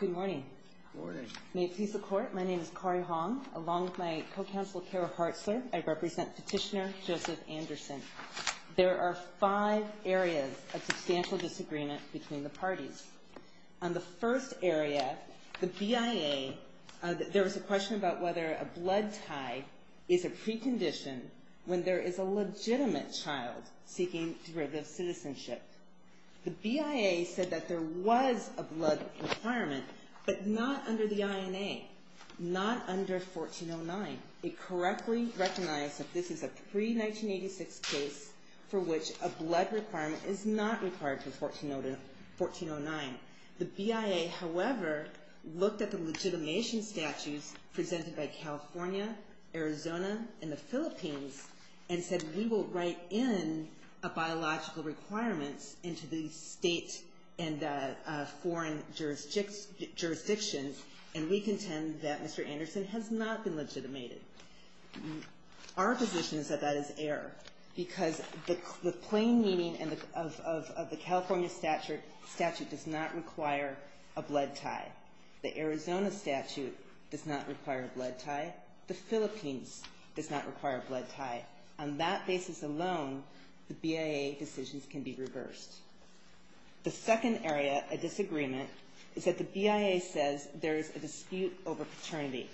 Good morning. May it please the Court, my name is Kari Hong. Along with my co-counsel Kara Hartzler, I represent petitioner Joseph Anderson. There are five areas of substantial disagreement between the parties. On the first area, the BIA, there was a question about whether a blood tie is a precondition when there is a legitimate child seeking derivative citizenship. The BIA said that there was a blood requirement, but not under the INA, not under 1409. It correctly recognized that this is a pre-1986 case for which a blood requirement is not required for 1409. The BIA, however, looked at the legitimation statutes presented by California, Arizona, and the Philippines and said we will write in a biological requirement into the state and foreign jurisdictions, and we contend that Mr. Anderson has not been legitimated. Our position is that that is error because the plain meaning of the California statute does not require a blood tie. The Arizona statute does not require a blood tie. The Philippines does not require a blood tie. On that basis alone, the BIA decisions can be reversed. The second area of disagreement is that the BIA says there is a dispute over paternity.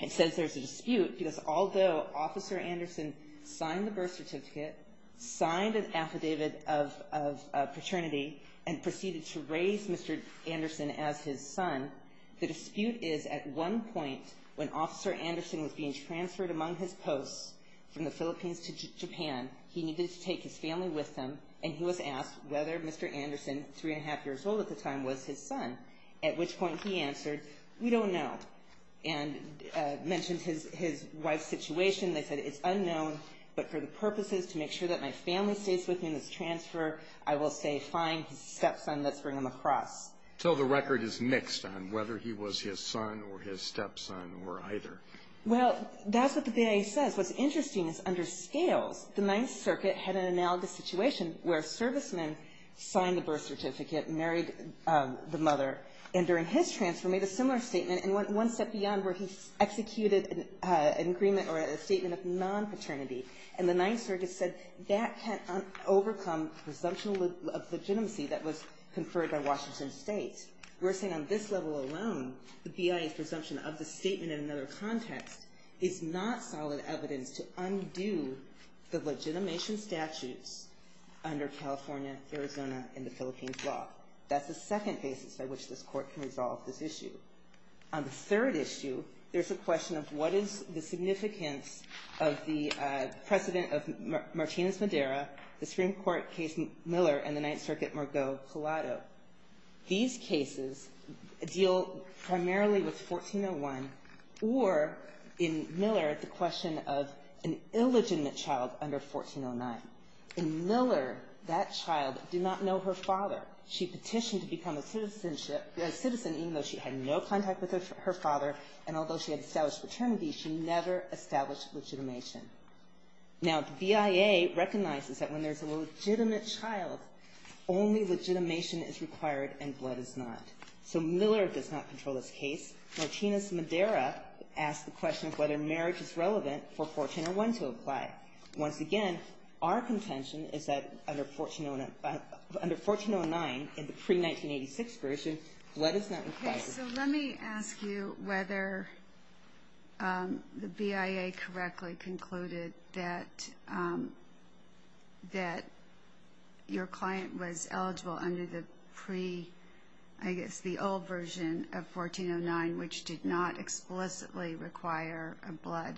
It says there is a dispute because although Officer Anderson signed the birth certificate, signed an affidavit of paternity, and proceeded to raise Mr. Anderson as his son, the dispute is at one point when Officer Anderson was being transferred among his posts from the Philippines to Japan, he needed to take his family with him, and he was asked whether Mr. Anderson, three and a half years old at the time, was his son, at which point he answered, we don't know, and mentioned his wife's situation. They said it's unknown, but for the purposes to make sure that my family stays with me in this transfer, I will say fine, he's a stepson, let's bring him across. So the record is mixed on whether he was his son or his stepson or either. Well, that's what the BIA says. What's interesting is under scales, the Ninth Circuit had an analogous situation and during his transfer made a similar statement and went one step beyond where he executed an agreement or a statement of non-paternity, and the Ninth Circuit said that can't overcome presumption of legitimacy that was conferred by Washington State. We're saying on this level alone, the BIA's presumption of the statement in another context is not solid evidence to undo the legitimation statutes under California, Arizona, and the Philippines law. That's the second basis by which this Court can resolve this issue. On the third issue, there's a question of what is the significance of the precedent of Martinez-Madeira, the Supreme Court case Miller, and the Ninth Circuit-Margaux-Palato. These cases deal primarily with 1401 or, in Miller, the question of an illegitimate child under 1409. In Miller, that child did not know her father. She petitioned to become a citizen even though she had no contact with her father, and although she had established paternity, she never established legitimation. Now, the BIA recognizes that when there's a legitimate child, only legitimation is required and blood is not. So Miller does not control this case. Martinez-Madeira asks the question of whether marriage is relevant for 1401 to apply. Once again, our contention is that under 1409, in the pre-1986 version, blood is not required. Okay, so let me ask you whether the BIA correctly concluded that your client was eligible under the pre- I guess the old version of 1409, which did not explicitly require a blood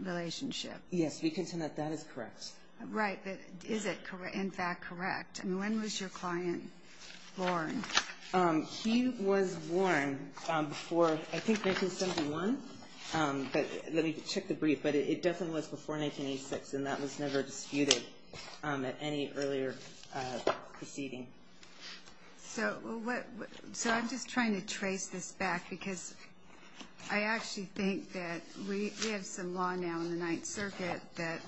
relationship. Yes. We contend that that is correct. Right. But is it in fact correct? I mean, when was your client born? He was born before, I think, 1971. But let me check the brief. But it definitely was before 1986, and that was never disputed at any earlier proceeding. So I'm just trying to trace this back, because I actually think that we have some law now in the Ninth Circuit that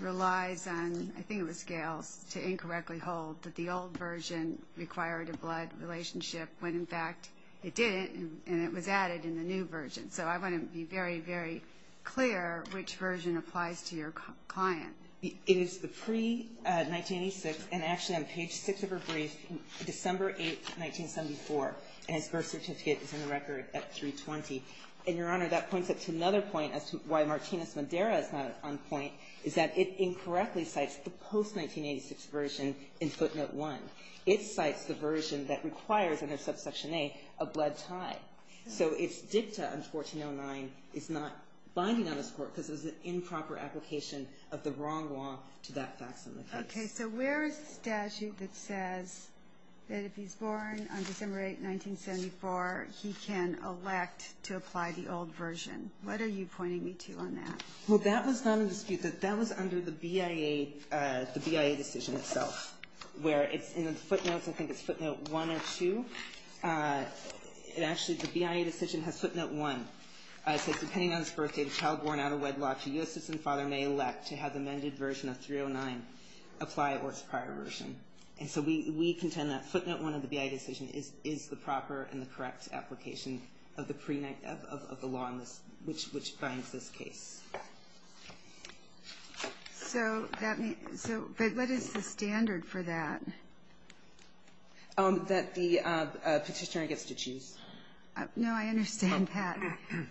relies on, I think it was Gales, to incorrectly hold that the old version required a blood relationship when, in fact, it didn't, and it was added in the new version. So I want to be very, very clear which version applies to your client. It is the pre-1986, and actually on page 6 of her brief, December 8th, 1974, and his birth certificate is in the record at 320. And, Your Honor, that points up to another point as to why Martinez-Madeira is not on point, is that it incorrectly cites the post-1986 version in footnote 1. It cites the version that requires under subsection A a blood tie. So its dicta in 1409 is not binding on this Court, because it was an improper application of the wrong law to that facsimile case. Okay. So where is the statute that says that if he's born on December 8th, 1974, he can elect to apply the old version? What are you pointing me to on that? Well, that was not in dispute. That was under the BIA decision itself, where it's in the footnotes. I think it's footnote 1 or 2. Actually, the BIA decision has footnote 1. It says, depending on his birth date, child born out of wedlock, a U.S. citizen father may elect to have the amended version of 309 apply or its prior version. And so we contend that footnote 1 of the BIA decision is the proper and the correct application of the pre-1986 law, which binds this case. So that means – but what is the standard for that? That the Petitioner gets to choose. No, I understand that.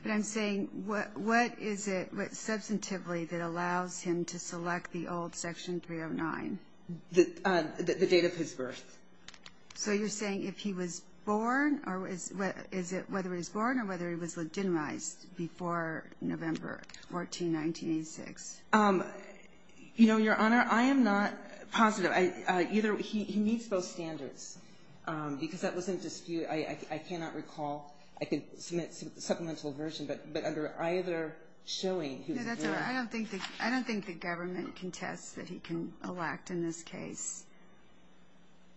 But I'm saying what is it substantively that allows him to select the old Section 309? The date of his birth. So you're saying if he was born or is it whether he was born or whether he was legitimized before November 14, 1986? You know, Your Honor, I am not positive. He needs both standards because that was in dispute. I cannot recall. I can submit a supplemental version, but under either showing he was born. No, that's all right. I don't think the government contests that he can elect in this case.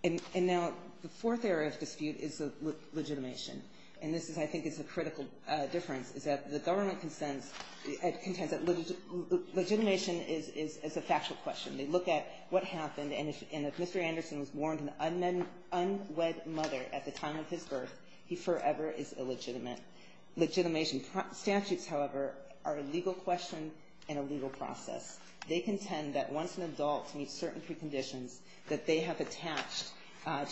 And now the fourth area of dispute is the legitimation. And this, I think, is a critical difference, is that the government contends that legitimation is a factual question. They look at what happened. And if Mr. Anderson was born to an unwed mother at the time of his birth, he forever is illegitimate. Legitimation statutes, however, are a legal question and a legal process. They contend that once an adult meets certain preconditions that they have attached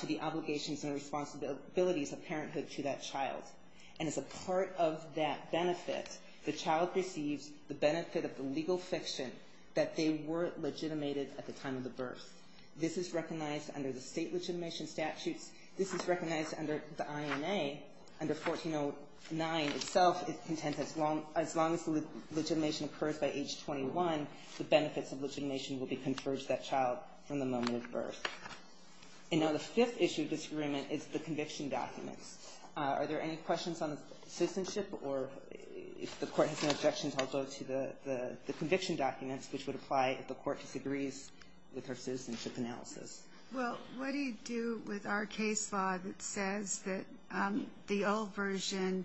to the obligations and responsibilities of parenthood to that child. And as a part of that benefit, the child receives the benefit of the legal fiction that they were legitimated at the time of the birth. This is recognized under the state legitimation statutes. This is recognized under the INA. Under 1409 itself, it contends as long as the legitimation occurs by age 21, the benefits of legitimation will be conferred to that child from the moment of birth. And now the fifth issue of disagreement is the conviction documents. Are there any questions on the citizenship, or if the Court has no objections, I'll go to the conviction documents, which would apply if the Court disagrees with our citizenship analysis. Well, what do you do with our case law that says that the old version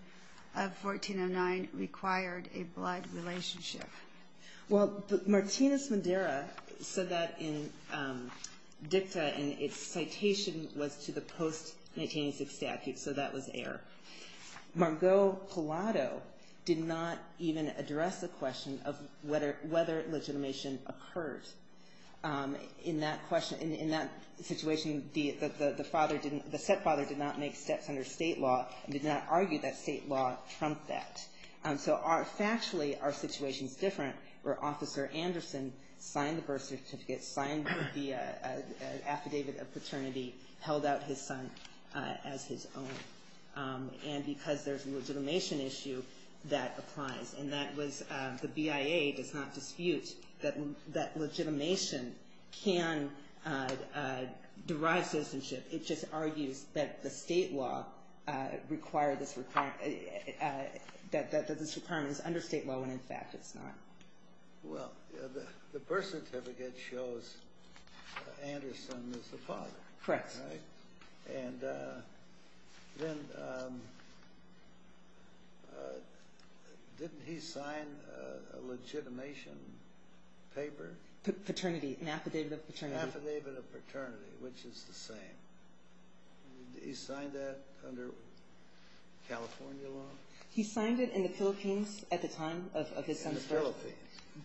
of 1409 required a blood relationship? Well, Martinez Madera said that in dicta, and its citation was to the post-1986 statute, so that was air. Margot Collado did not even address the question of whether legitimation occurred. In that situation, the set father did not make steps under state law and did not argue that state law trumped that. So factually, our situation's different where Officer Anderson signed the birth certificate, and because there's a legitimation issue, that applies. And that was, the BIA does not dispute that legitimation can derive citizenship. It just argues that the state law required this requirement, that this requirement is under state law when in fact it's not. Well, the birth certificate shows Anderson is the father. Correct. And then, didn't he sign a legitimation paper? Paternity, an affidavit of paternity. Affidavit of paternity, which is the same. He signed that under California law? He signed it in the Philippines at the time of his son's birth. In the Philippines.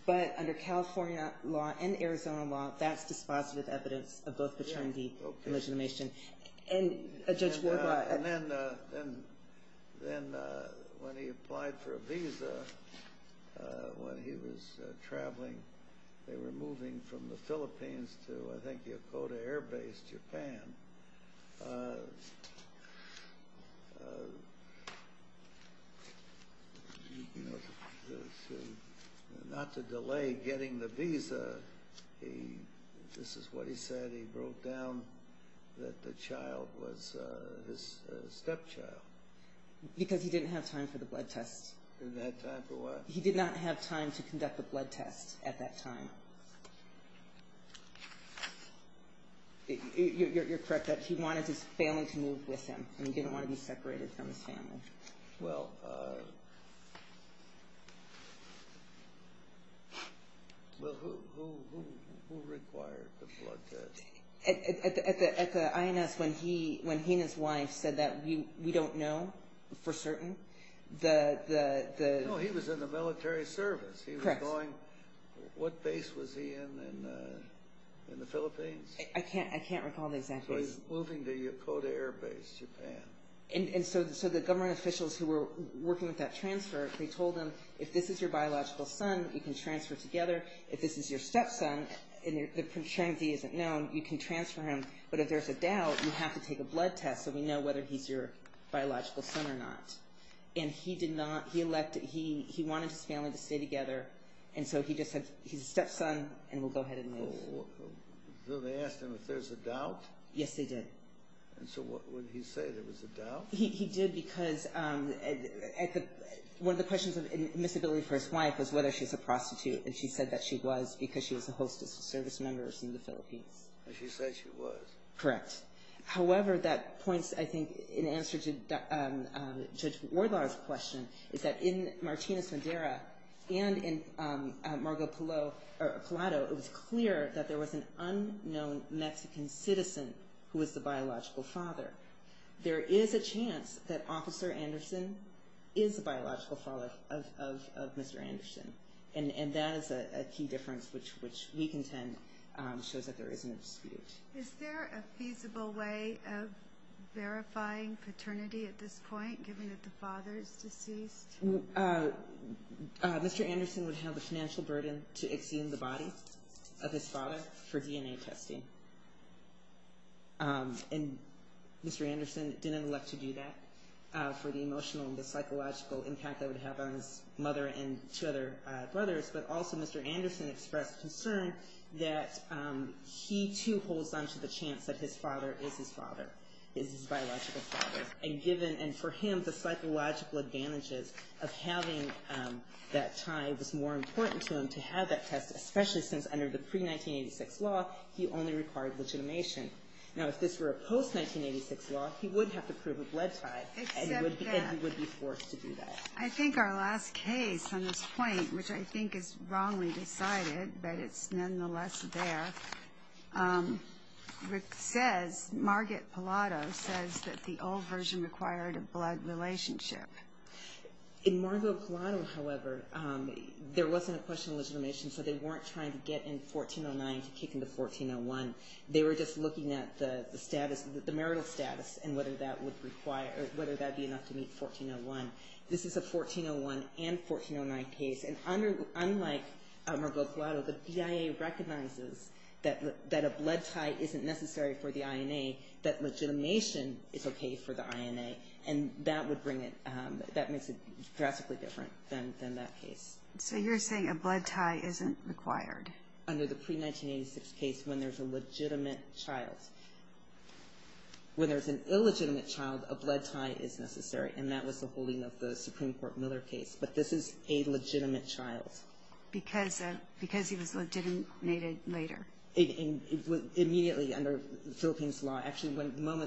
But under California law and Arizona law, that's dispositive evidence of both paternity and legitimation. Okay. And Judge Ward? And then when he applied for a visa, when he was traveling, they were moving from the Philippines to, I think, Yokota Air Base, Japan. Not to delay getting the visa, this is what he said. He wrote down that the child was his stepchild. Because he didn't have time for the blood test. He didn't have time for what? He did not have time to conduct the blood test at that time. You're correct. He wanted his family to move with him. He didn't want to be separated from his family. Well, who required the blood test? At the INS, when he and his wife said that, we don't know for certain. No, he was in the military service. Correct. What base was he in in the Philippines? I can't recall the exact place. So he's moving to Yokota Air Base, Japan. And so the government officials who were working with that transfer, they told him, if this is your biological son, you can transfer together. If this is your stepson, and the paternity isn't known, you can transfer him. But if there's a doubt, you have to take a blood test so we know whether he's your biological son or not. And he wanted his family to stay together, and so he just said, he's a stepson, and we'll go ahead and move. So they asked him if there's a doubt? Yes, they did. And so what did he say? There was a doubt? He did because one of the questions of admissibility for his wife was whether she's a prostitute, and she said that she was because she was a hostess service member in the Philippines. And she said she was. Correct. However, that points, I think, in answer to Judge Wardlaw's question, is that in Martinez-Madeira and in Margot Palado, it was clear that there was an unknown Mexican citizen who was the biological father. There is a chance that Officer Anderson is the biological father of Mr. Anderson. And that is a key difference, which we contend shows that there is an dispute. Is there a feasible way of verifying paternity at this point, given that the father is deceased? Mr. Anderson would have the financial burden to exhume the body of his father for DNA testing. And Mr. Anderson didn't elect to do that for the emotional and the psychological impact that would have on his mother and two other brothers. But also, Mr. Anderson expressed concern that he, too, holds on to the chance that his father is his biological father. And for him, the psychological advantages of having that tie was more important to him to have that test, especially since under the pre-1986 law, he only required legitimation. Now, if this were a post-1986 law, he would have to prove a blood tie, and he would be forced to do that. I think our last case on this point, which I think is wrongly decided, but it's nonetheless there, says, Margot Pallado says that the old version required a blood relationship. In Margot Pallado, however, there wasn't a question of legitimation, so they weren't trying to get in 1409 to kick into 1401. They were just looking at the status, the marital status, and whether that would require, whether that would be enough to meet 1401. This is a 1401 and 1409 case, and unlike Margot Pallado, the BIA recognizes that a blood tie isn't necessary for the INA, that legitimation is okay for the INA, and that would bring it, that makes it drastically different than that case. So you're saying a blood tie isn't required? Under the pre-1986 case, when there's a legitimate child. When there's an illegitimate child, a blood tie is necessary, and that was the holding of the Supreme Court Miller case, but this is a legitimate child. Because he was legitimated later? Immediately, under the Philippines law. Actually,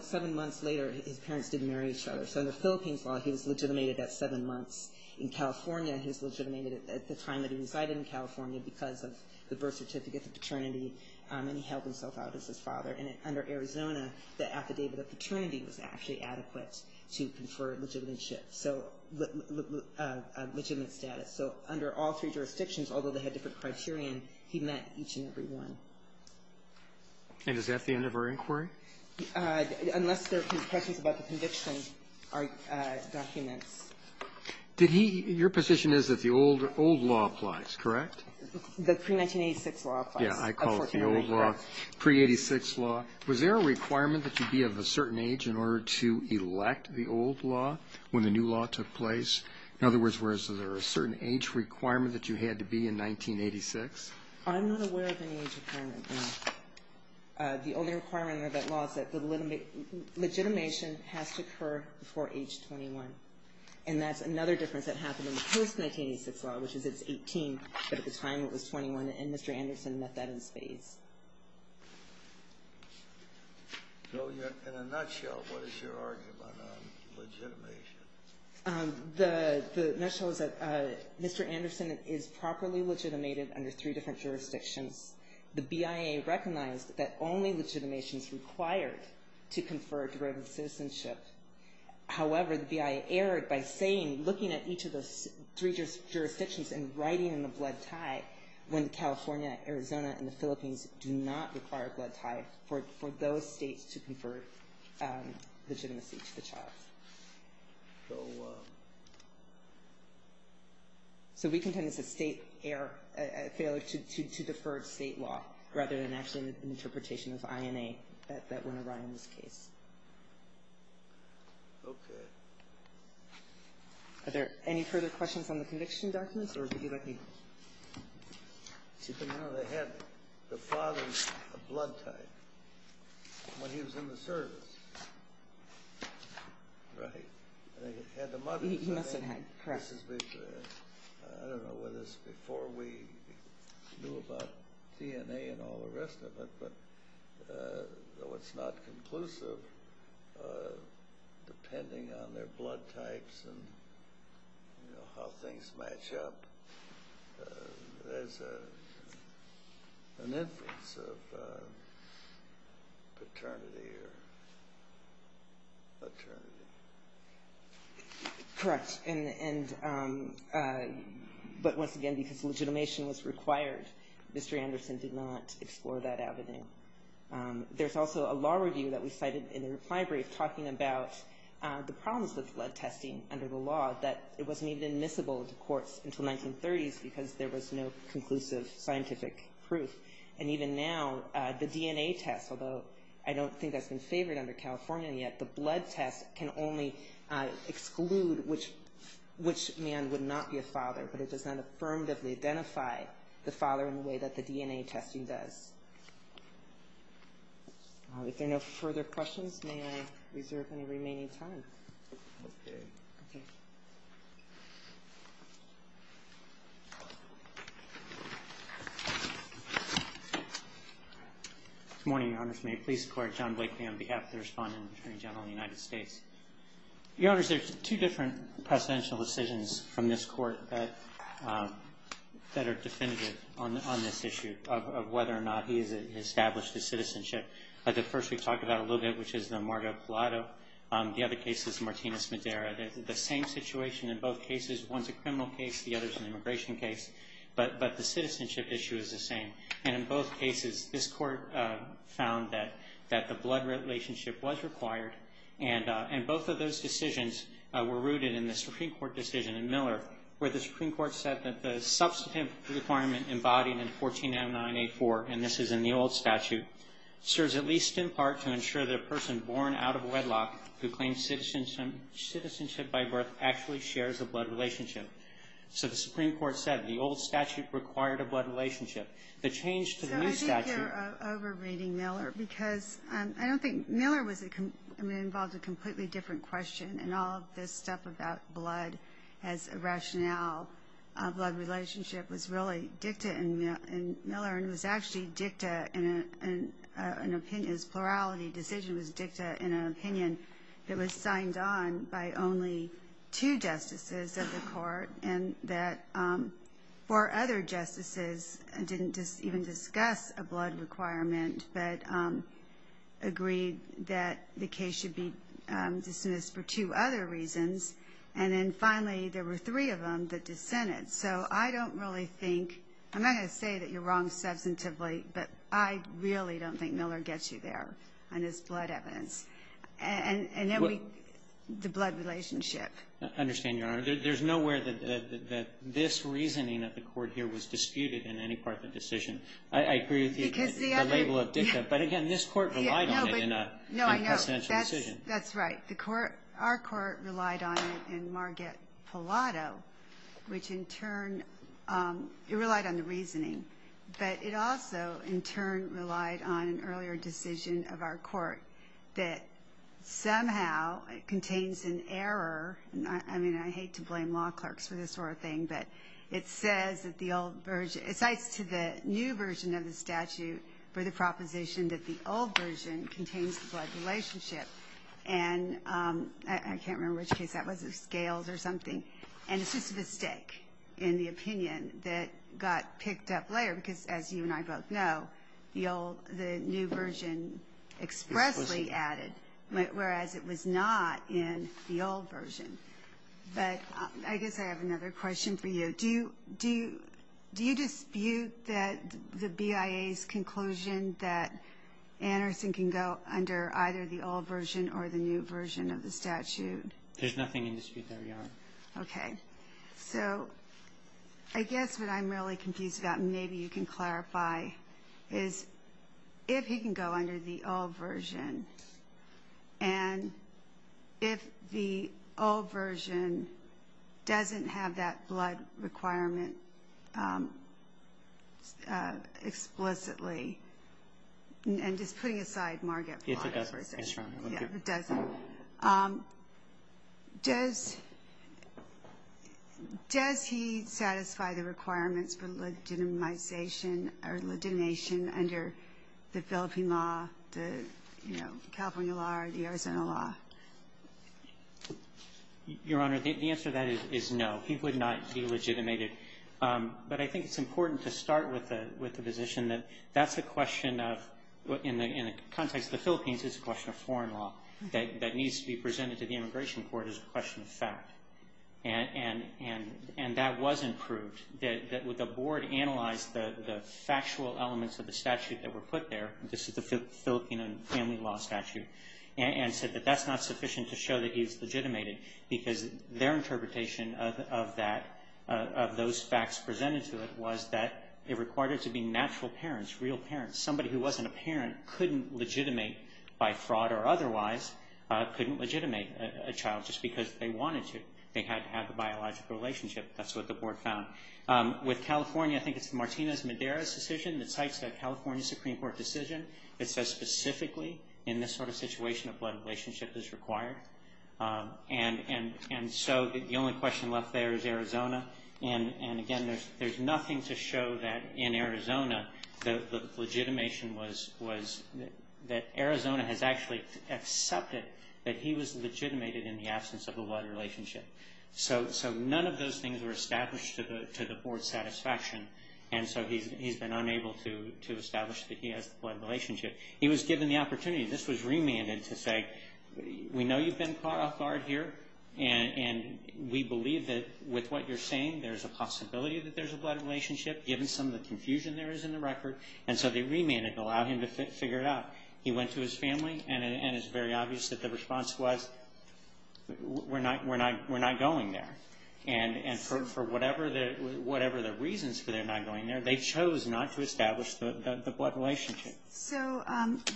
seven months later, his parents didn't marry each other, so under the Philippines law, he was legitimated at seven months. In California, he was legitimated at the time that he resided in California because of the birth certificate, the paternity, and he held himself out as his father. And under Arizona, the affidavit of paternity was actually adequate to confer a legitimate status. So under all three jurisdictions, although they had different criterion, he met each and every one. And is that the end of our inquiry? Unless there are questions about the conviction, our documents. Did he, your position is that the old law applies, correct? The pre-1986 law applies. Yeah, I call it the old law, pre-86 law. Now, was there a requirement that you be of a certain age in order to elect the old law when the new law took place? In other words, was there a certain age requirement that you had to be in 1986? I'm not aware of any age requirement, no. The only requirement of that law is that the legitimation has to occur before age 21. And that's another difference that happened in the post-1986 law, which is it's 18, but at the time it was 21, and Mr. Anderson met that in spades. So in a nutshell, what is your argument on legitimation? The nutshell is that Mr. Anderson is properly legitimated under three different jurisdictions. The BIA recognized that only legitimation is required to confer a derivative citizenship. However, the BIA erred by saying, looking at each of those three jurisdictions and writing in the blood tie when California, Arizona, and the Philippines do not require a blood tie for those states to confer legitimacy to the child. So we contend it's a state error, a failure to defer state law rather than actually an interpretation of INA that went awry in this case. Okay. Are there any further questions on the conviction documents? Or would you like me to? No, they had the father's blood type when he was in the service. Right? They had the mother's. He must have had. Correct. I don't know whether it's before we knew about DNA and all the rest of it, but though it's not conclusive, depending on their blood types and how things match up, there's an inference of paternity or paternity. Correct. But once again, because legitimation was required, Mr. Anderson did not explore that avenue. There's also a law review that we cited in the reply brief talking about the problems with blood testing under the law, that it wasn't even admissible to courts until 1930s because there was no conclusive scientific proof. And even now, the DNA test, although I don't think that's been favored under California yet, the blood test can only exclude which man would not be a father. But it does not affirmatively identify the father in the way that the DNA testing does. If there are no further questions, may I reserve any remaining time? Okay. Okay. Good morning, Your Honors. May it please the Court. John Blakely on behalf of the Respondent and Attorney General of the United States. Your Honors, there are two different presidential decisions from this Court that are definitive on this issue of whether or not he has established his citizenship. The first we've talked about a little bit, which is the Margot Pilato. The other case is Martinez-Madera. The same situation in both cases. One's a criminal case. The other's an immigration case. But the citizenship issue is the same. And in both cases, this Court found that the blood relationship was required, and both of those decisions were rooted in the Supreme Court decision in Miller where the Supreme Court said that the substantive requirement embodied in 14-09-84, and this is in the old statute, serves at least in part to ensure that a person born out of wedlock who claims citizenship by birth actually shares a blood relationship. So the Supreme Court said the old statute required a blood relationship. The change to the new statute ---- So I think you're over-reading Miller because I don't think Miller was a ---- I mean, it involved a completely different question, and all of this stuff about blood as a rationale, blood relationship was really dicta in Miller and was actually dicta in an opinion. His plurality decision was dicta in an opinion that was signed on by only two justices of the Court and that four other justices didn't even discuss a blood requirement but agreed that the case should be dismissed for two other reasons, and then finally there were three of them that dissented. So I don't really think ---- I'm not going to say that you're wrong substantively, but I really don't think Miller gets you there on his blood evidence. And then we ---- Well ---- The blood relationship. I understand, Your Honor. There's nowhere that this reasoning of the Court here was disputed in any part of the decision. I agree with the ---- Because the other ---- The label of dicta. But again, this Court relied on it in a ---- No, but no, I know. In a presidential decision. That's right. The Court ---- Our Court relied on it in Marget Pilato, which in turn, it relied on the reasoning. But it also, in turn, relied on an earlier decision of our Court that somehow contains an error. I mean, I hate to blame law clerks for this sort of thing, but it says that the old version ---- it cites to the new version of the statute for the proposition that the old version contains the blood relationship. And I can't remember which case that was. It was Scales or something. And it's just a mistake in the opinion that got picked up later because, as you and I both know, the new version expressly added, whereas it was not in the old version. But I guess I have another question for you. Do you dispute the BIA's conclusion that Anderson can go under either the old version or the new version of the statute? There's nothing in dispute there, Your Honor. Okay. So I guess what I'm really confused about, and maybe you can clarify, is if he can go under the old version and if the old version doesn't have that blood requirement explicitly, and just putting aside Marget Pilato's version. Yes, it does. Yes, Your Honor. It doesn't. Does he satisfy the requirements for legitimization or legitimation under the Philippine law, the, you know, California law or the Arizona law? Your Honor, the answer to that is no. He would not be legitimated. But I think it's important to start with the position that that's a question of, in the context of the Philippines, it's a question of foreign law. That needs to be presented to the immigration court as a question of fact. And that wasn't proved. The board analyzed the factual elements of the statute that were put there. This is the Philippine family law statute. And said that that's not sufficient to show that he's legitimated because their interpretation of that, of those facts presented to it, was that it required it to be natural parents, real parents. Somebody who wasn't a parent couldn't legitimate by fraud or otherwise couldn't legitimate a child just because they wanted to. They had to have a biological relationship. That's what the board found. With California, I think it's Martinez-Madera's decision that cites the California Supreme Court decision that says specifically in this sort of situation a blood relationship is required. And so the only question left there is Arizona. And, again, there's nothing to show that in Arizona the legitimation was that Arizona has actually accepted that he was legitimated in the absence of a blood relationship. So none of those things were established to the board's satisfaction. And so he's been unable to establish that he has a blood relationship. He was given the opportunity. This was remanded to say, we know you've been caught off guard here. And we believe that with what you're saying, there's a possibility that there's a blood relationship, given some of the confusion there is in the record. And so they remanded and allowed him to figure it out. He went to his family, and it's very obvious that the response was, we're not going there. And for whatever the reasons for their not going there, they chose not to establish the blood relationship. So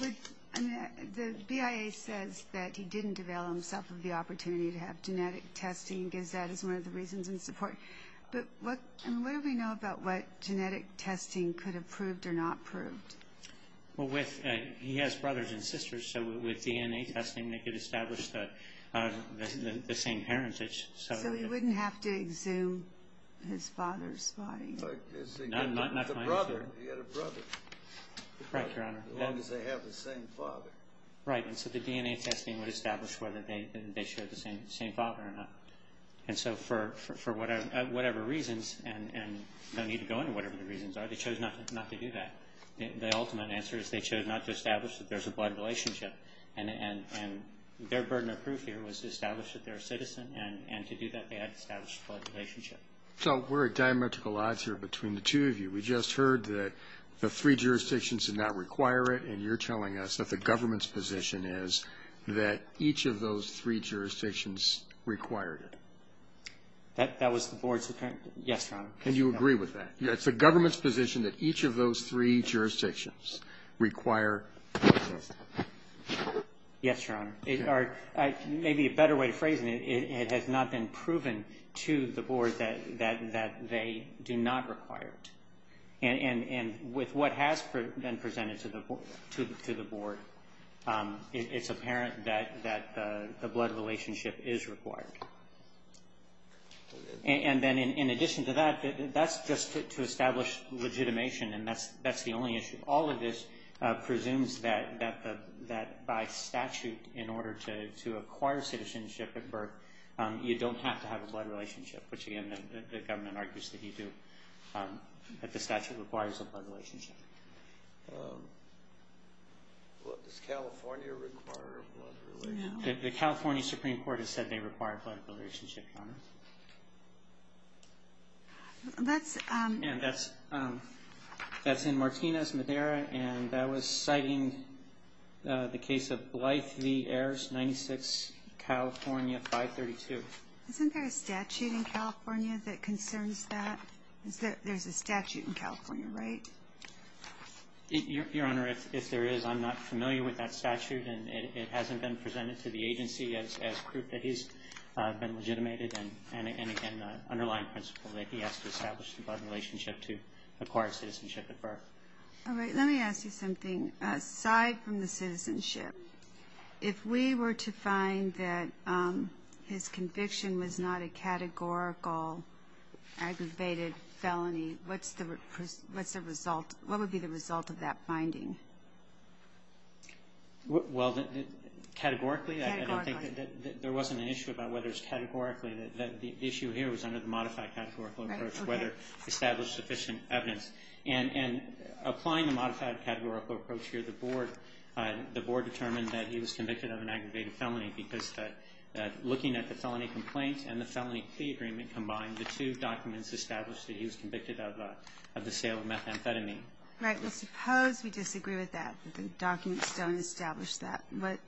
the BIA says that he didn't avail himself of the opportunity to have genetic testing, and gives that as one of the reasons in support. But what do we know about what genetic testing could have proved or not proved? Well, he has brothers and sisters. So with DNA testing, they could establish the same heritage. So he wouldn't have to exhume his father's body? He had a brother. Right, Your Honor. As long as they have the same father. Right. And so the DNA testing would establish whether they shared the same father or not. And so for whatever reasons, and no need to go into whatever the reasons are, they chose not to do that. The ultimate answer is they chose not to establish that there's a blood relationship. And their burden of proof here was to establish that they're a citizen. And to do that, they had to establish a blood relationship. So we're at diametrical odds here between the two of you. We just heard that the three jurisdictions did not require it, and you're telling us that the government's position is that each of those three jurisdictions required it. That was the Board's opinion? Yes, Your Honor. And you agree with that? It's the government's position that each of those three jurisdictions require genetic testing? Yes, Your Honor. Maybe a better way to phrase it, it has not been proven to the Board that they do not require it. And with what has been presented to the Board, it's apparent that the blood relationship is required. And then in addition to that, that's just to establish legitimation, and that's the only issue. All of this presumes that by statute, in order to acquire citizenship at birth, you don't have to have a blood relationship, which, again, the government argues that you do, that the statute requires a blood relationship. Does California require a blood relationship? The California Supreme Court has said they require a blood relationship, Your Honor. That's in Martinez, Madera, and that was citing the case of Blythe v. Ayers, 96, California, 532. Isn't there a statute in California that concerns that? There's a statute in California, right? Your Honor, if there is, I'm not familiar with that statute, and it hasn't been presented to the agency as proof that he's been legitimated, and, again, an underlying principle that he has to establish a blood relationship to acquire citizenship at birth. All right. Let me ask you something. Aside from the citizenship, if we were to find that his conviction was not a categorical aggravated felony, what's the result? What would be the result of that finding? Well, categorically, I don't think that there wasn't an issue about whether it's categorically. The issue here was under the modified categorical approach, whether established sufficient evidence. And applying the modified categorical approach here, the Board determined that he was convicted of an aggravated felony because looking at the felony complaint and the felony plea agreement combined, the two documents established that he was convicted of the sale of methamphetamine. Right. Well, suppose we disagree with that. The documents don't establish that.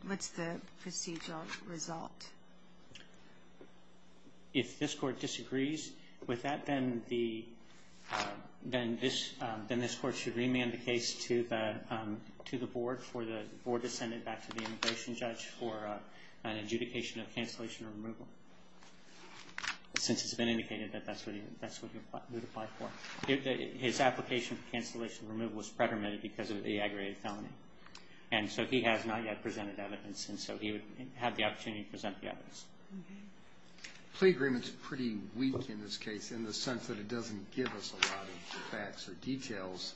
What's the procedural result? If this Court disagrees with that, then this Court should remand the case to the Board for the Board to send it back to the immigration judge for an adjudication of cancellation or removal. Since it's been indicated that that's what you would apply for. His application for cancellation or removal was predetermined because of the aggravated felony. And so he has not yet presented evidence, and so he would have the opportunity to present the evidence. Okay. The plea agreement's pretty weak in this case in the sense that it doesn't give us a lot of facts or details,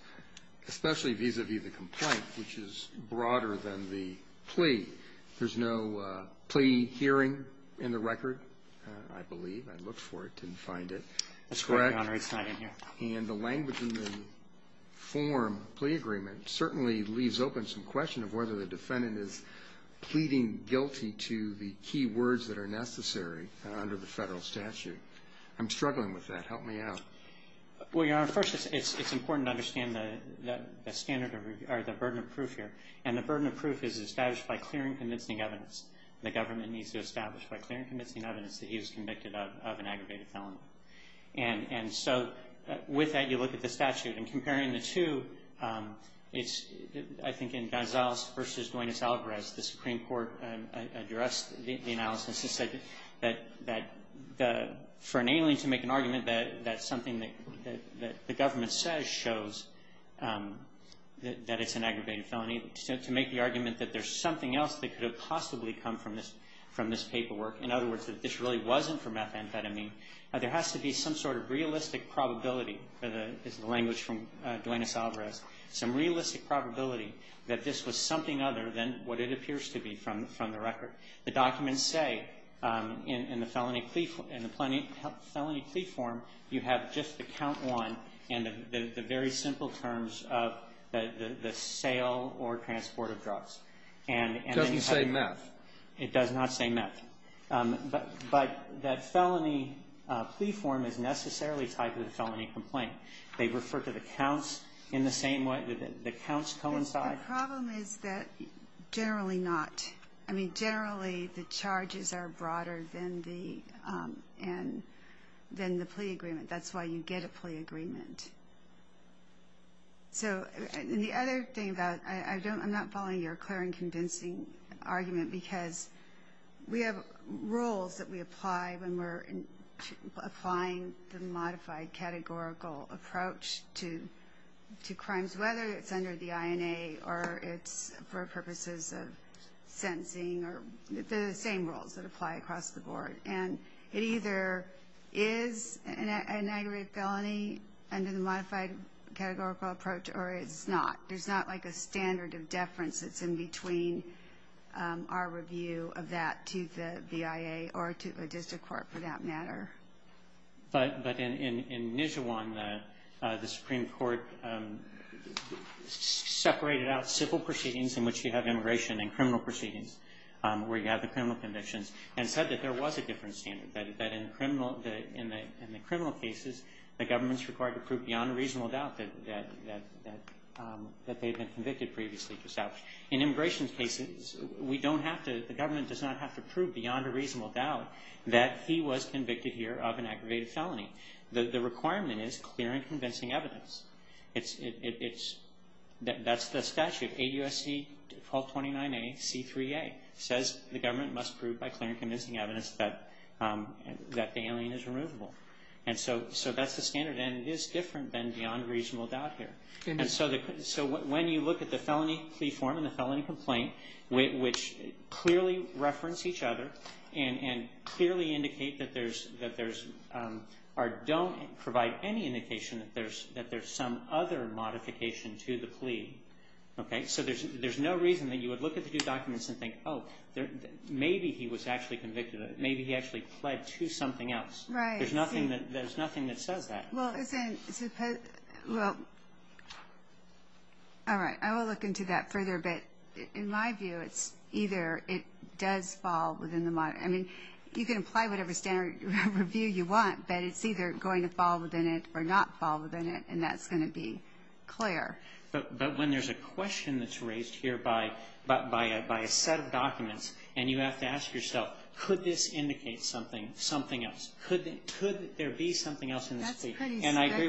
especially vis-a-vis the complaint, which is broader than the plea. There's no plea hearing in the record, I believe. I looked for it, didn't find it. That's correct, Your Honor. It's not in here. And the language in the form, plea agreement, certainly leaves open some question of whether the defendant is pleading guilty to the key words that are necessary under the Federal statute. I'm struggling with that. Help me out. Well, Your Honor, first, it's important to understand the standard or the burden of proof here. And the burden of proof is established by clear and convincing evidence. The government needs to establish by clear and convincing evidence that he was convicted of an aggravated felony. And so with that, you look at the statute. And comparing the two, it's, I think, in Gonzalez v. Duanez-Alvarez, the Supreme Court addressed the analysis and said that for an alien to make an argument that something that the government says shows that it's an alien to make the argument that there's something else that could have possibly come from this paperwork, in other words, that this really wasn't from methamphetamine, there has to be some sort of realistic probability, this is the language from Duanez-Alvarez, some realistic probability that this was something other than what it appears to be from the record. The documents say in the felony plea form, you have just the count one and the very simple terms of the sale or transport of drugs. It doesn't say meth. It does not say meth. But that felony plea form is necessarily tied to the felony complaint. They refer to the counts in the same way, the counts coincide. The problem is that generally not. I mean, generally the charges are broader than the plea agreement. That's why you get a plea agreement. So the other thing about it, I'm not following your clear and convincing argument, because we have rules that we apply when we're applying the modified categorical approach to crimes, whether it's under the INA or it's for purposes of sentencing. They're the same rules that apply across the board. And it either is an aggravated felony under the modified categorical approach or it's not. There's not like a standard of deference that's in between our review of that to the BIA or to a district court for that matter. But in Nijhuan, the Supreme Court separated out civil proceedings in which you have immigration and criminal proceedings where you have the criminal convictions and said that there was a different standard, that in the criminal cases the government's required to prove beyond a reasonable doubt that they've been convicted previously to establish. In immigration cases, we don't have to, that the government does not have to prove beyond a reasonable doubt that he was convicted here of an aggravated felony. The requirement is clear and convincing evidence. That's the statute. AUSC 1229A, C3A says the government must prove by clear and convincing evidence that the alien is removable. And so that's the standard, and it is different than beyond a reasonable doubt here. And so when you look at the felony plea form and the felony complaint, which clearly reference each other and clearly indicate that there's, or don't provide any indication that there's some other modification to the plea, so there's no reason that you would look at the two documents and think, oh, maybe he was actually convicted of it, maybe he actually pled to something else. There's nothing that says that. Well, isn't, well, all right, I will look into that further. But in my view, it's either it does fall within the, I mean, you can apply whatever standard review you want, but it's either going to fall within it or not fall within it, and that's going to be clear. But when there's a question that's raised here by a set of documents and you have to ask yourself, could this indicate something else? Could there be something else in this plea? And I agree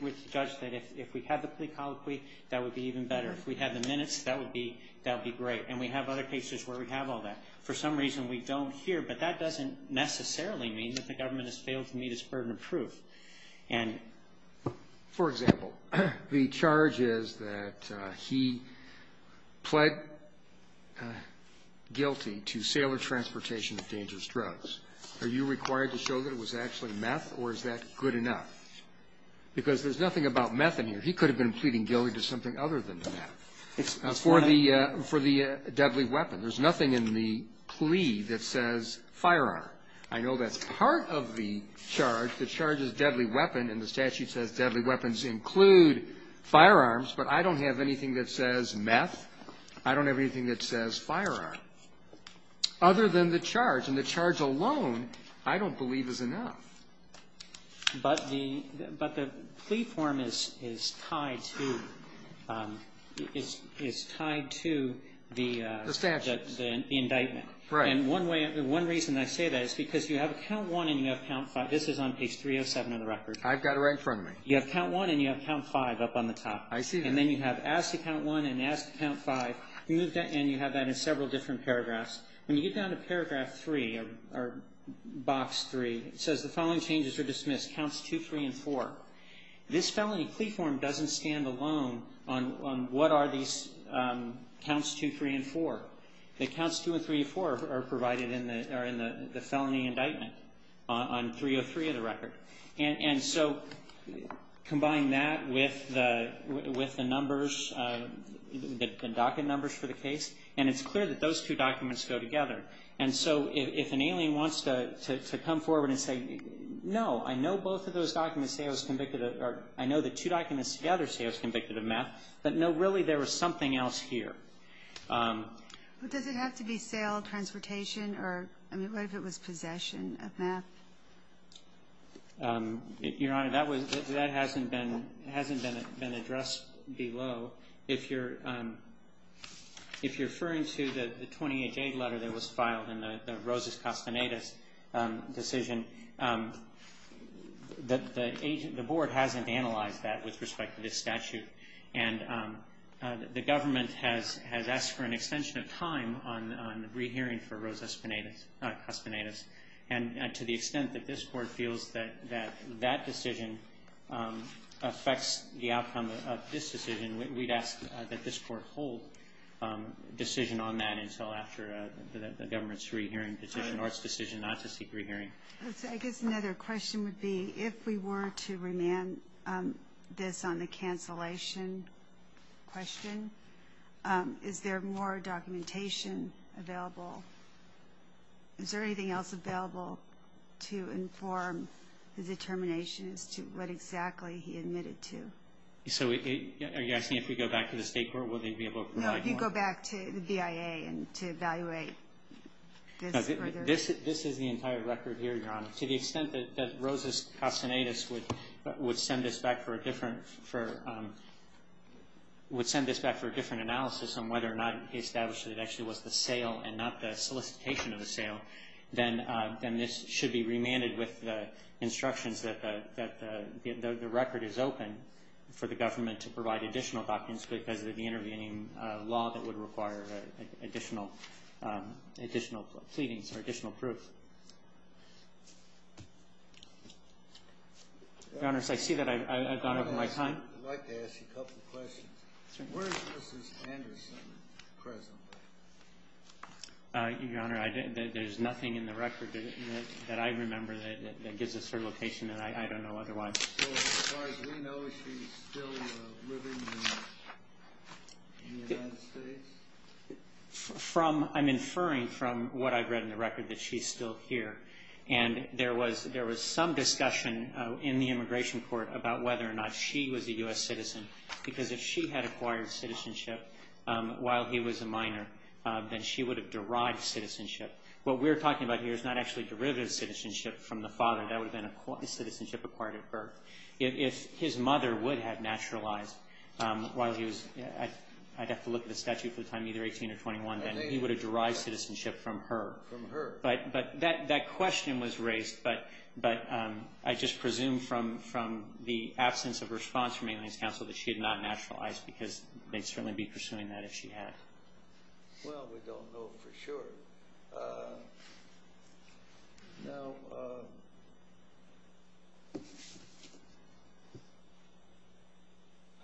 with Judge that if we had the plea colloquy, that would be even better. If we had the minutes, that would be great. And we have other cases where we have all that. For some reason, we don't here, but that doesn't necessarily mean that the government has failed to meet its burden of proof. And for example, the charge is that he pled guilty to sale or transportation of dangerous drugs. Are you required to show that it was actually meth, or is that good enough? Because there's nothing about meth in here. He could have been pleading guilty to something other than meth for the deadly weapon. There's nothing in the plea that says firearm. I know that's part of the charge. The charge is deadly weapon, and the statute says deadly weapons include firearms. But I don't have anything that says meth. I don't have anything that says firearm other than the charge. And the charge alone, I don't believe, is enough. But the plea form is tied to the indictment. The statute. Right. And one reason I say that is because you have count one and you have count five. This is on page 307 of the record. I've got it right in front of me. You have count one and you have count five up on the top. I see that. And then you have ask to count one and ask to count five, and you have that in several different paragraphs. When you get down to paragraph three or box three, it says the following changes are dismissed, counts two, three, and four. This felony plea form doesn't stand alone on what are these counts two, three, and four. The counts two and three and four are provided in the felony indictment on 303 of the record. And so combine that with the numbers, the docket numbers for the case, and it's clear that those two documents go together. And so if an alien wants to come forward and say, no, I know both of those documents say I was convicted of or I know the two documents together say I was convicted of meth, but no, really, there was something else here. But does it have to be sale, transportation, or, I mean, what if it was possession of meth? Your Honor, that hasn't been addressed below. If you're referring to the 28-J letter that was filed in the Rosas-Castanedas decision, the board hasn't analyzed that with respect to this statute. And the government has asked for an extension of time on rehearing for Rosas-Castanedas. And to the extent that this board feels that that decision affects the outcome of this decision, we'd ask that this court hold a decision on that until after the government's rehearing petition or its decision not to seek rehearing. I guess another question would be if we were to remand this on the cancellation question, is there more documentation available? Is there anything else available to inform the determination as to what exactly he admitted to? So are you asking if we go back to the State Court, will they be able to provide more? No, if you go back to the BIA and to evaluate this further. This is the entire record here, Your Honor. To the extent that Rosas-Castanedas would send this back for a different analysis on whether or not he established that it actually was the sale and not the solicitation of the sale, then this should be remanded with the instructions that the record is open. For the government to provide additional documents because of the intervening law that would require additional pleadings or additional proof. Your Honor, I see that I've gone over my time. I'd like to ask you a couple of questions. Where is Mrs. Anderson presently? Your Honor, there's nothing in the record that I remember that gives us her location that I don't know otherwise. As far as we know, is she still living in the United States? I'm inferring from what I've read in the record that she's still here. And there was some discussion in the immigration court about whether or not she was a U.S. citizen because if she had acquired citizenship while he was a minor, then she would have derived citizenship. What we're talking about here is not actually derivative citizenship from the father. That would have been citizenship acquired at birth. If his mother would have naturalized while he was at, I'd have to look at the statute for the time, either 18 or 21, then he would have derived citizenship from her. From her. But that question was raised. But I just presume from the absence of response from Aliens Counsel that she had not naturalized because they'd certainly be pursuing that if she had. Well, we don't know for sure. Now,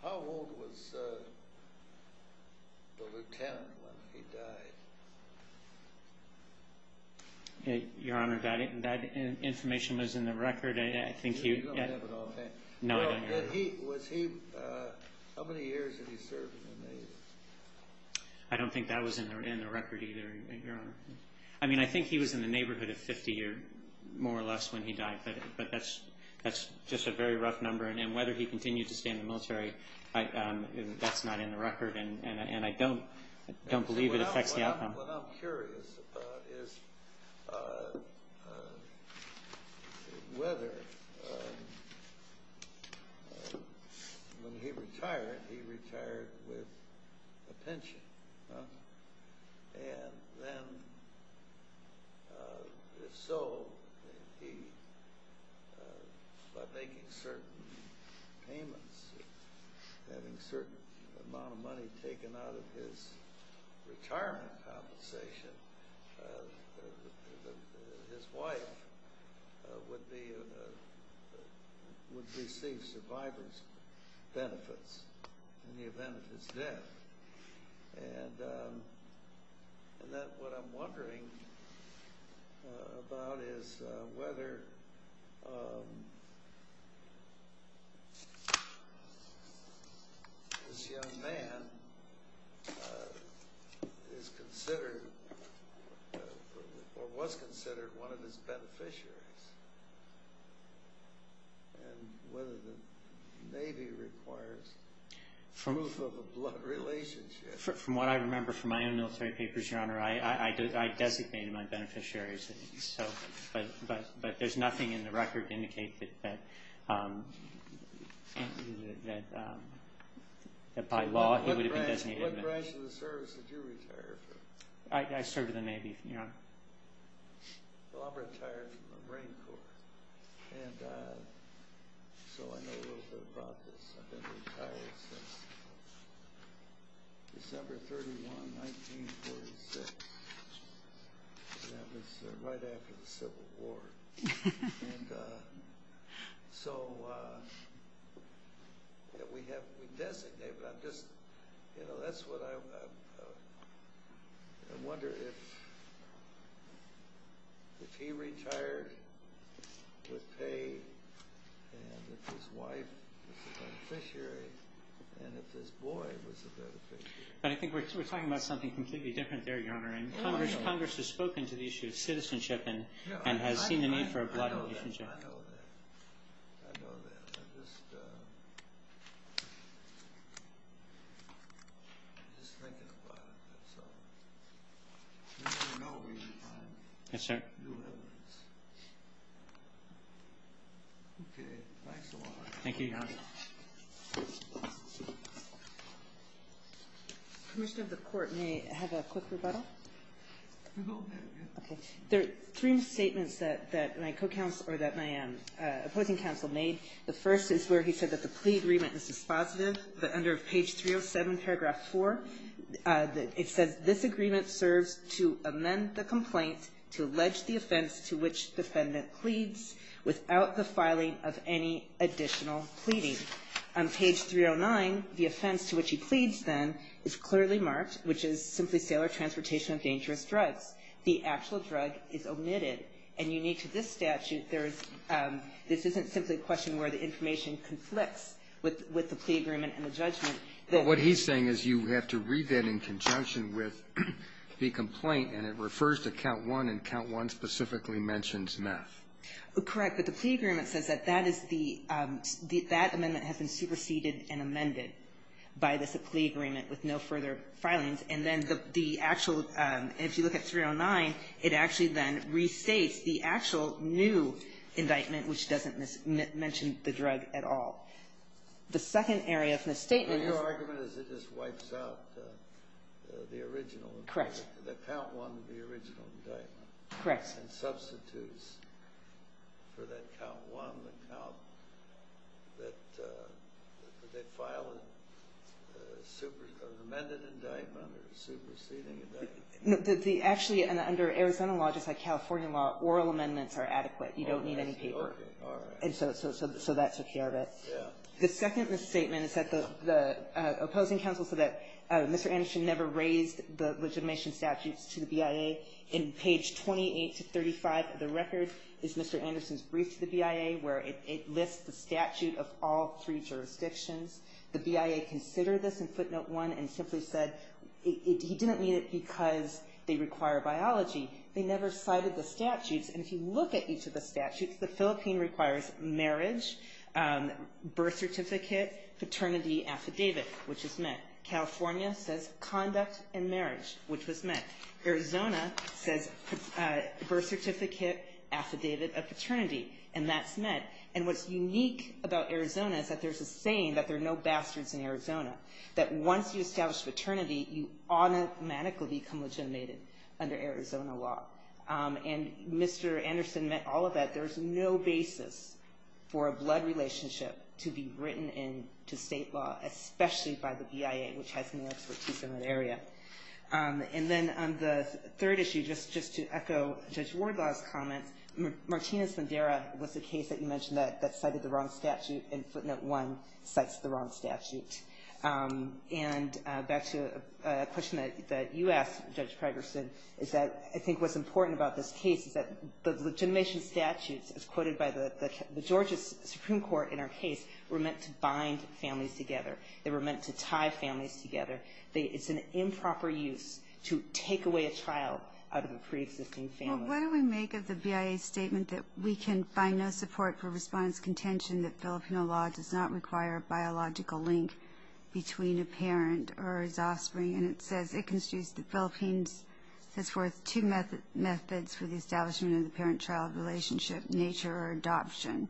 how old was the lieutenant when he died? Your Honor, that information was in the record. You don't have it on hand. No, I don't. How many years had he served in the Navy? I don't think that was in the record either, Your Honor. I mean, I think he was in the neighborhood of 50 or more or less when he died. But that's just a very rough number. And whether he continued to stay in the military, that's not in the record. Your Honor, what I'm curious about is whether when he retired, he retired with a pension. And then if so, by making certain payments, having a certain amount of money taken out of his retirement compensation, his wife would receive survivor's benefits in the event of his death. And what I'm wondering about is whether this young man is considered or was considered one of his beneficiaries and whether the Navy requires proof of a blood relationship. From what I remember from my own military papers, Your Honor, I designated my beneficiaries. But there's nothing in the record to indicate that by law he would have been designated. What branch of the service did you retire from? I served in the Navy, Your Honor. Well, I'm retired from the Marine Corps. And so I know a little bit about this. I've been retired since December 31, 1946. And that was right after the Civil War. And so we designated him. That's what I wonder. If he retired with pay and if his wife was a beneficiary and if his boy was a beneficiary. But I think we're talking about something completely different there, Your Honor. Congress has spoken to the issue of citizenship and has seen the need for a blood relationship. I know that. I know that. I'm just thinking about it. So you know we need time. Yes, sir. Okay. Thanks a lot. Thank you, Your Honor. Commissioner of the Court, may I have a quick rebuttal? Okay. There are three statements that my co-counsel or that my opposing counsel made. The first is where he said that the plea agreement is dispositive, but under page 307, paragraph 4, it says this agreement serves to amend the complaint to allege the offense to which defendant pleads without the filing of any additional pleading. On page 309, the offense to which he pleads, then, is clearly marked, which is simply sale or transportation of dangerous drugs. The actual drug is omitted. And unique to this statute, there is this isn't simply a question where the information conflicts with the plea agreement and the judgment. But what he's saying is you have to read that in conjunction with the complaint, and it refers to count one, and count one specifically mentions meth. Correct. But the plea agreement says that that is the that amendment has been superseded and amended by this plea agreement with no further filings. And then the actual, if you look at 309, it actually then restates the actual new indictment, which doesn't mention the drug at all. The second area of misstatement is Your argument is it just wipes out the original Correct. The count one of the original indictment. Correct. And substitutes for that count one, the count that they filed an amended indictment or a superseding indictment. Actually, under Arizona law, just like California law, oral amendments are adequate. You don't need any paper. All right. So that took care of it. Yeah. The second misstatement is that the opposing counsel said that Mr. Anderson never raised the legitimation statutes to the BIA. In page 28 to 35 of the record is Mr. Anderson's brief to the BIA where it lists the statute of all three jurisdictions. The BIA considered this in footnote one and simply said he didn't need it because they require biology. They never cited the statutes. And if you look at each of the statutes, the Philippine requires marriage, birth certificate, paternity affidavit, which is met. California says conduct and marriage, which was met. Arizona says birth certificate, affidavit of paternity, and that's met. And what's unique about Arizona is that there's a saying that there are no bastards in Arizona, that once you establish paternity, you automatically become legitimated under Arizona law. And Mr. Anderson met all of that. There's no basis for a blood relationship to be written into state law, especially by the BIA, which has no expertise in that area. And then on the third issue, just to echo Judge Wardlaw's comments, Martinez-Mendera was the case that you mentioned that cited the wrong statute and footnote one cites the wrong statute. And back to a question that you asked, Judge Pregerson, is that I think what's important about this case is that the legitimation statutes, as quoted by the Georgia Supreme Court in our case, were meant to bind families together. They were meant to tie families together. It's an improper use to take away a child out of a preexisting family. Well, what do we make of the BIA's statement that we can find no support for respondent's contention that Filipino law does not require a biological link between a parent or his offspring? And it says, it constitutes the Philippines, says forth, two methods for the establishment of the parent-child relationship, nature or adoption.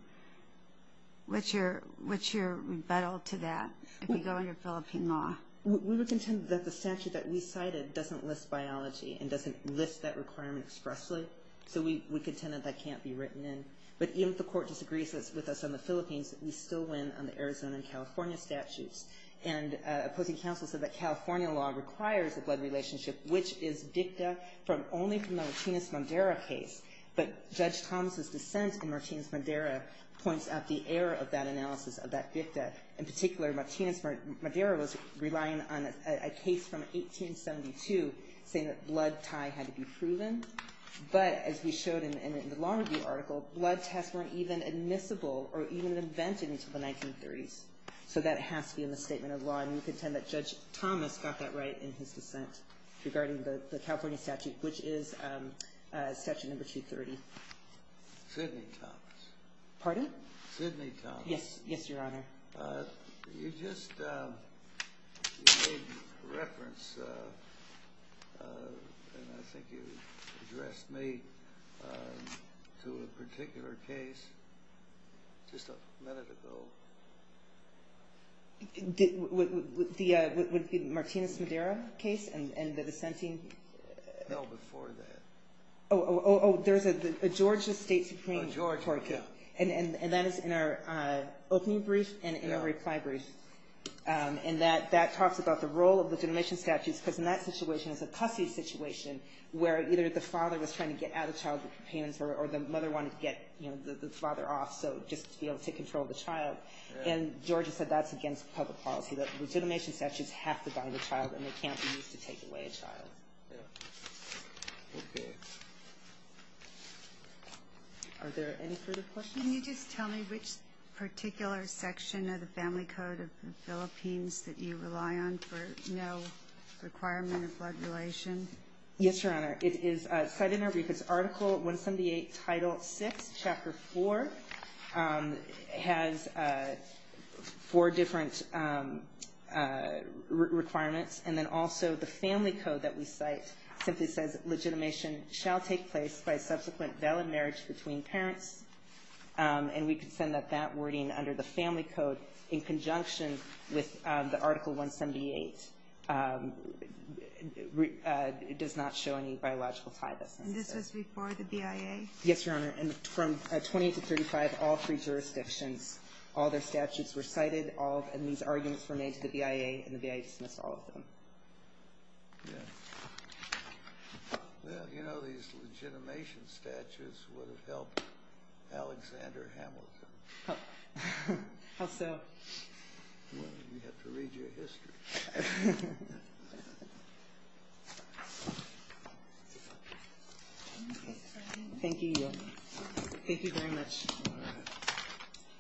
What's your rebuttal to that if you go under Philippine law? We would contend that the statute that we cited doesn't list biology and doesn't list that requirement expressly. So we contend that that can't be written in. But even if the Court disagrees with us on the Philippines, we still win on the Arizona and California statutes. And opposing counsel said that California law requires a blood relationship, which is dicta only from the Martinez-Mendera case. But Judge Thomas' dissent in Martinez-Mendera points out the error of that analysis, of that dicta. In particular, Martinez-Mendera was relying on a case from 1872 saying that blood tie had to be proven. But as we showed in the law review article, blood tests weren't even admissible or even invented until the 1930s. So that has to be in the statement of law. And we contend that Judge Thomas got that right in his dissent regarding the section number 230. Sidney Thomas. Pardon? Sidney Thomas. Yes, Your Honor. You just made reference, and I think you addressed me, to a particular case just a minute ago. The Martinez-Mendera case and the dissenting? No, before that. Oh, there's a Georgia State Supreme Court case. Oh, Georgia. And that is in our opening brief and in our reply brief. And that talks about the role of legitimation statutes, because in that situation it's a custody situation where either the father was trying to get at a child with companions or the mother wanted to get the father off just to be able to take control of the child. And Georgia said that's against public policy, that legitimation statutes have to bind the child and they can't be used to take away a child. Okay. Are there any further questions? Can you just tell me which particular section of the Family Code of the Philippines that you rely on for no requirement of blood relation? Yes, Your Honor. It is cited in our brief. It's Article 178, Title VI, Chapter 4. It has four different requirements. And then also the Family Code that we cite simply says, legitimation shall take place by subsequent valid marriage between parents. And we can send out that wording under the Family Code in conjunction with the Article 178. It does not show any biological tie. And this was before the BIA? Yes, Your Honor. And from 20 to 35, all three jurisdictions, all their statutes were cited, and these arguments were made to the BIA and the BIA dismissed all of them. Yeah. Well, you know, these legitimation statutes would have helped Alexander Hamilton. How so? Well, you have to read your history. Thank you. Thank you very much. All right.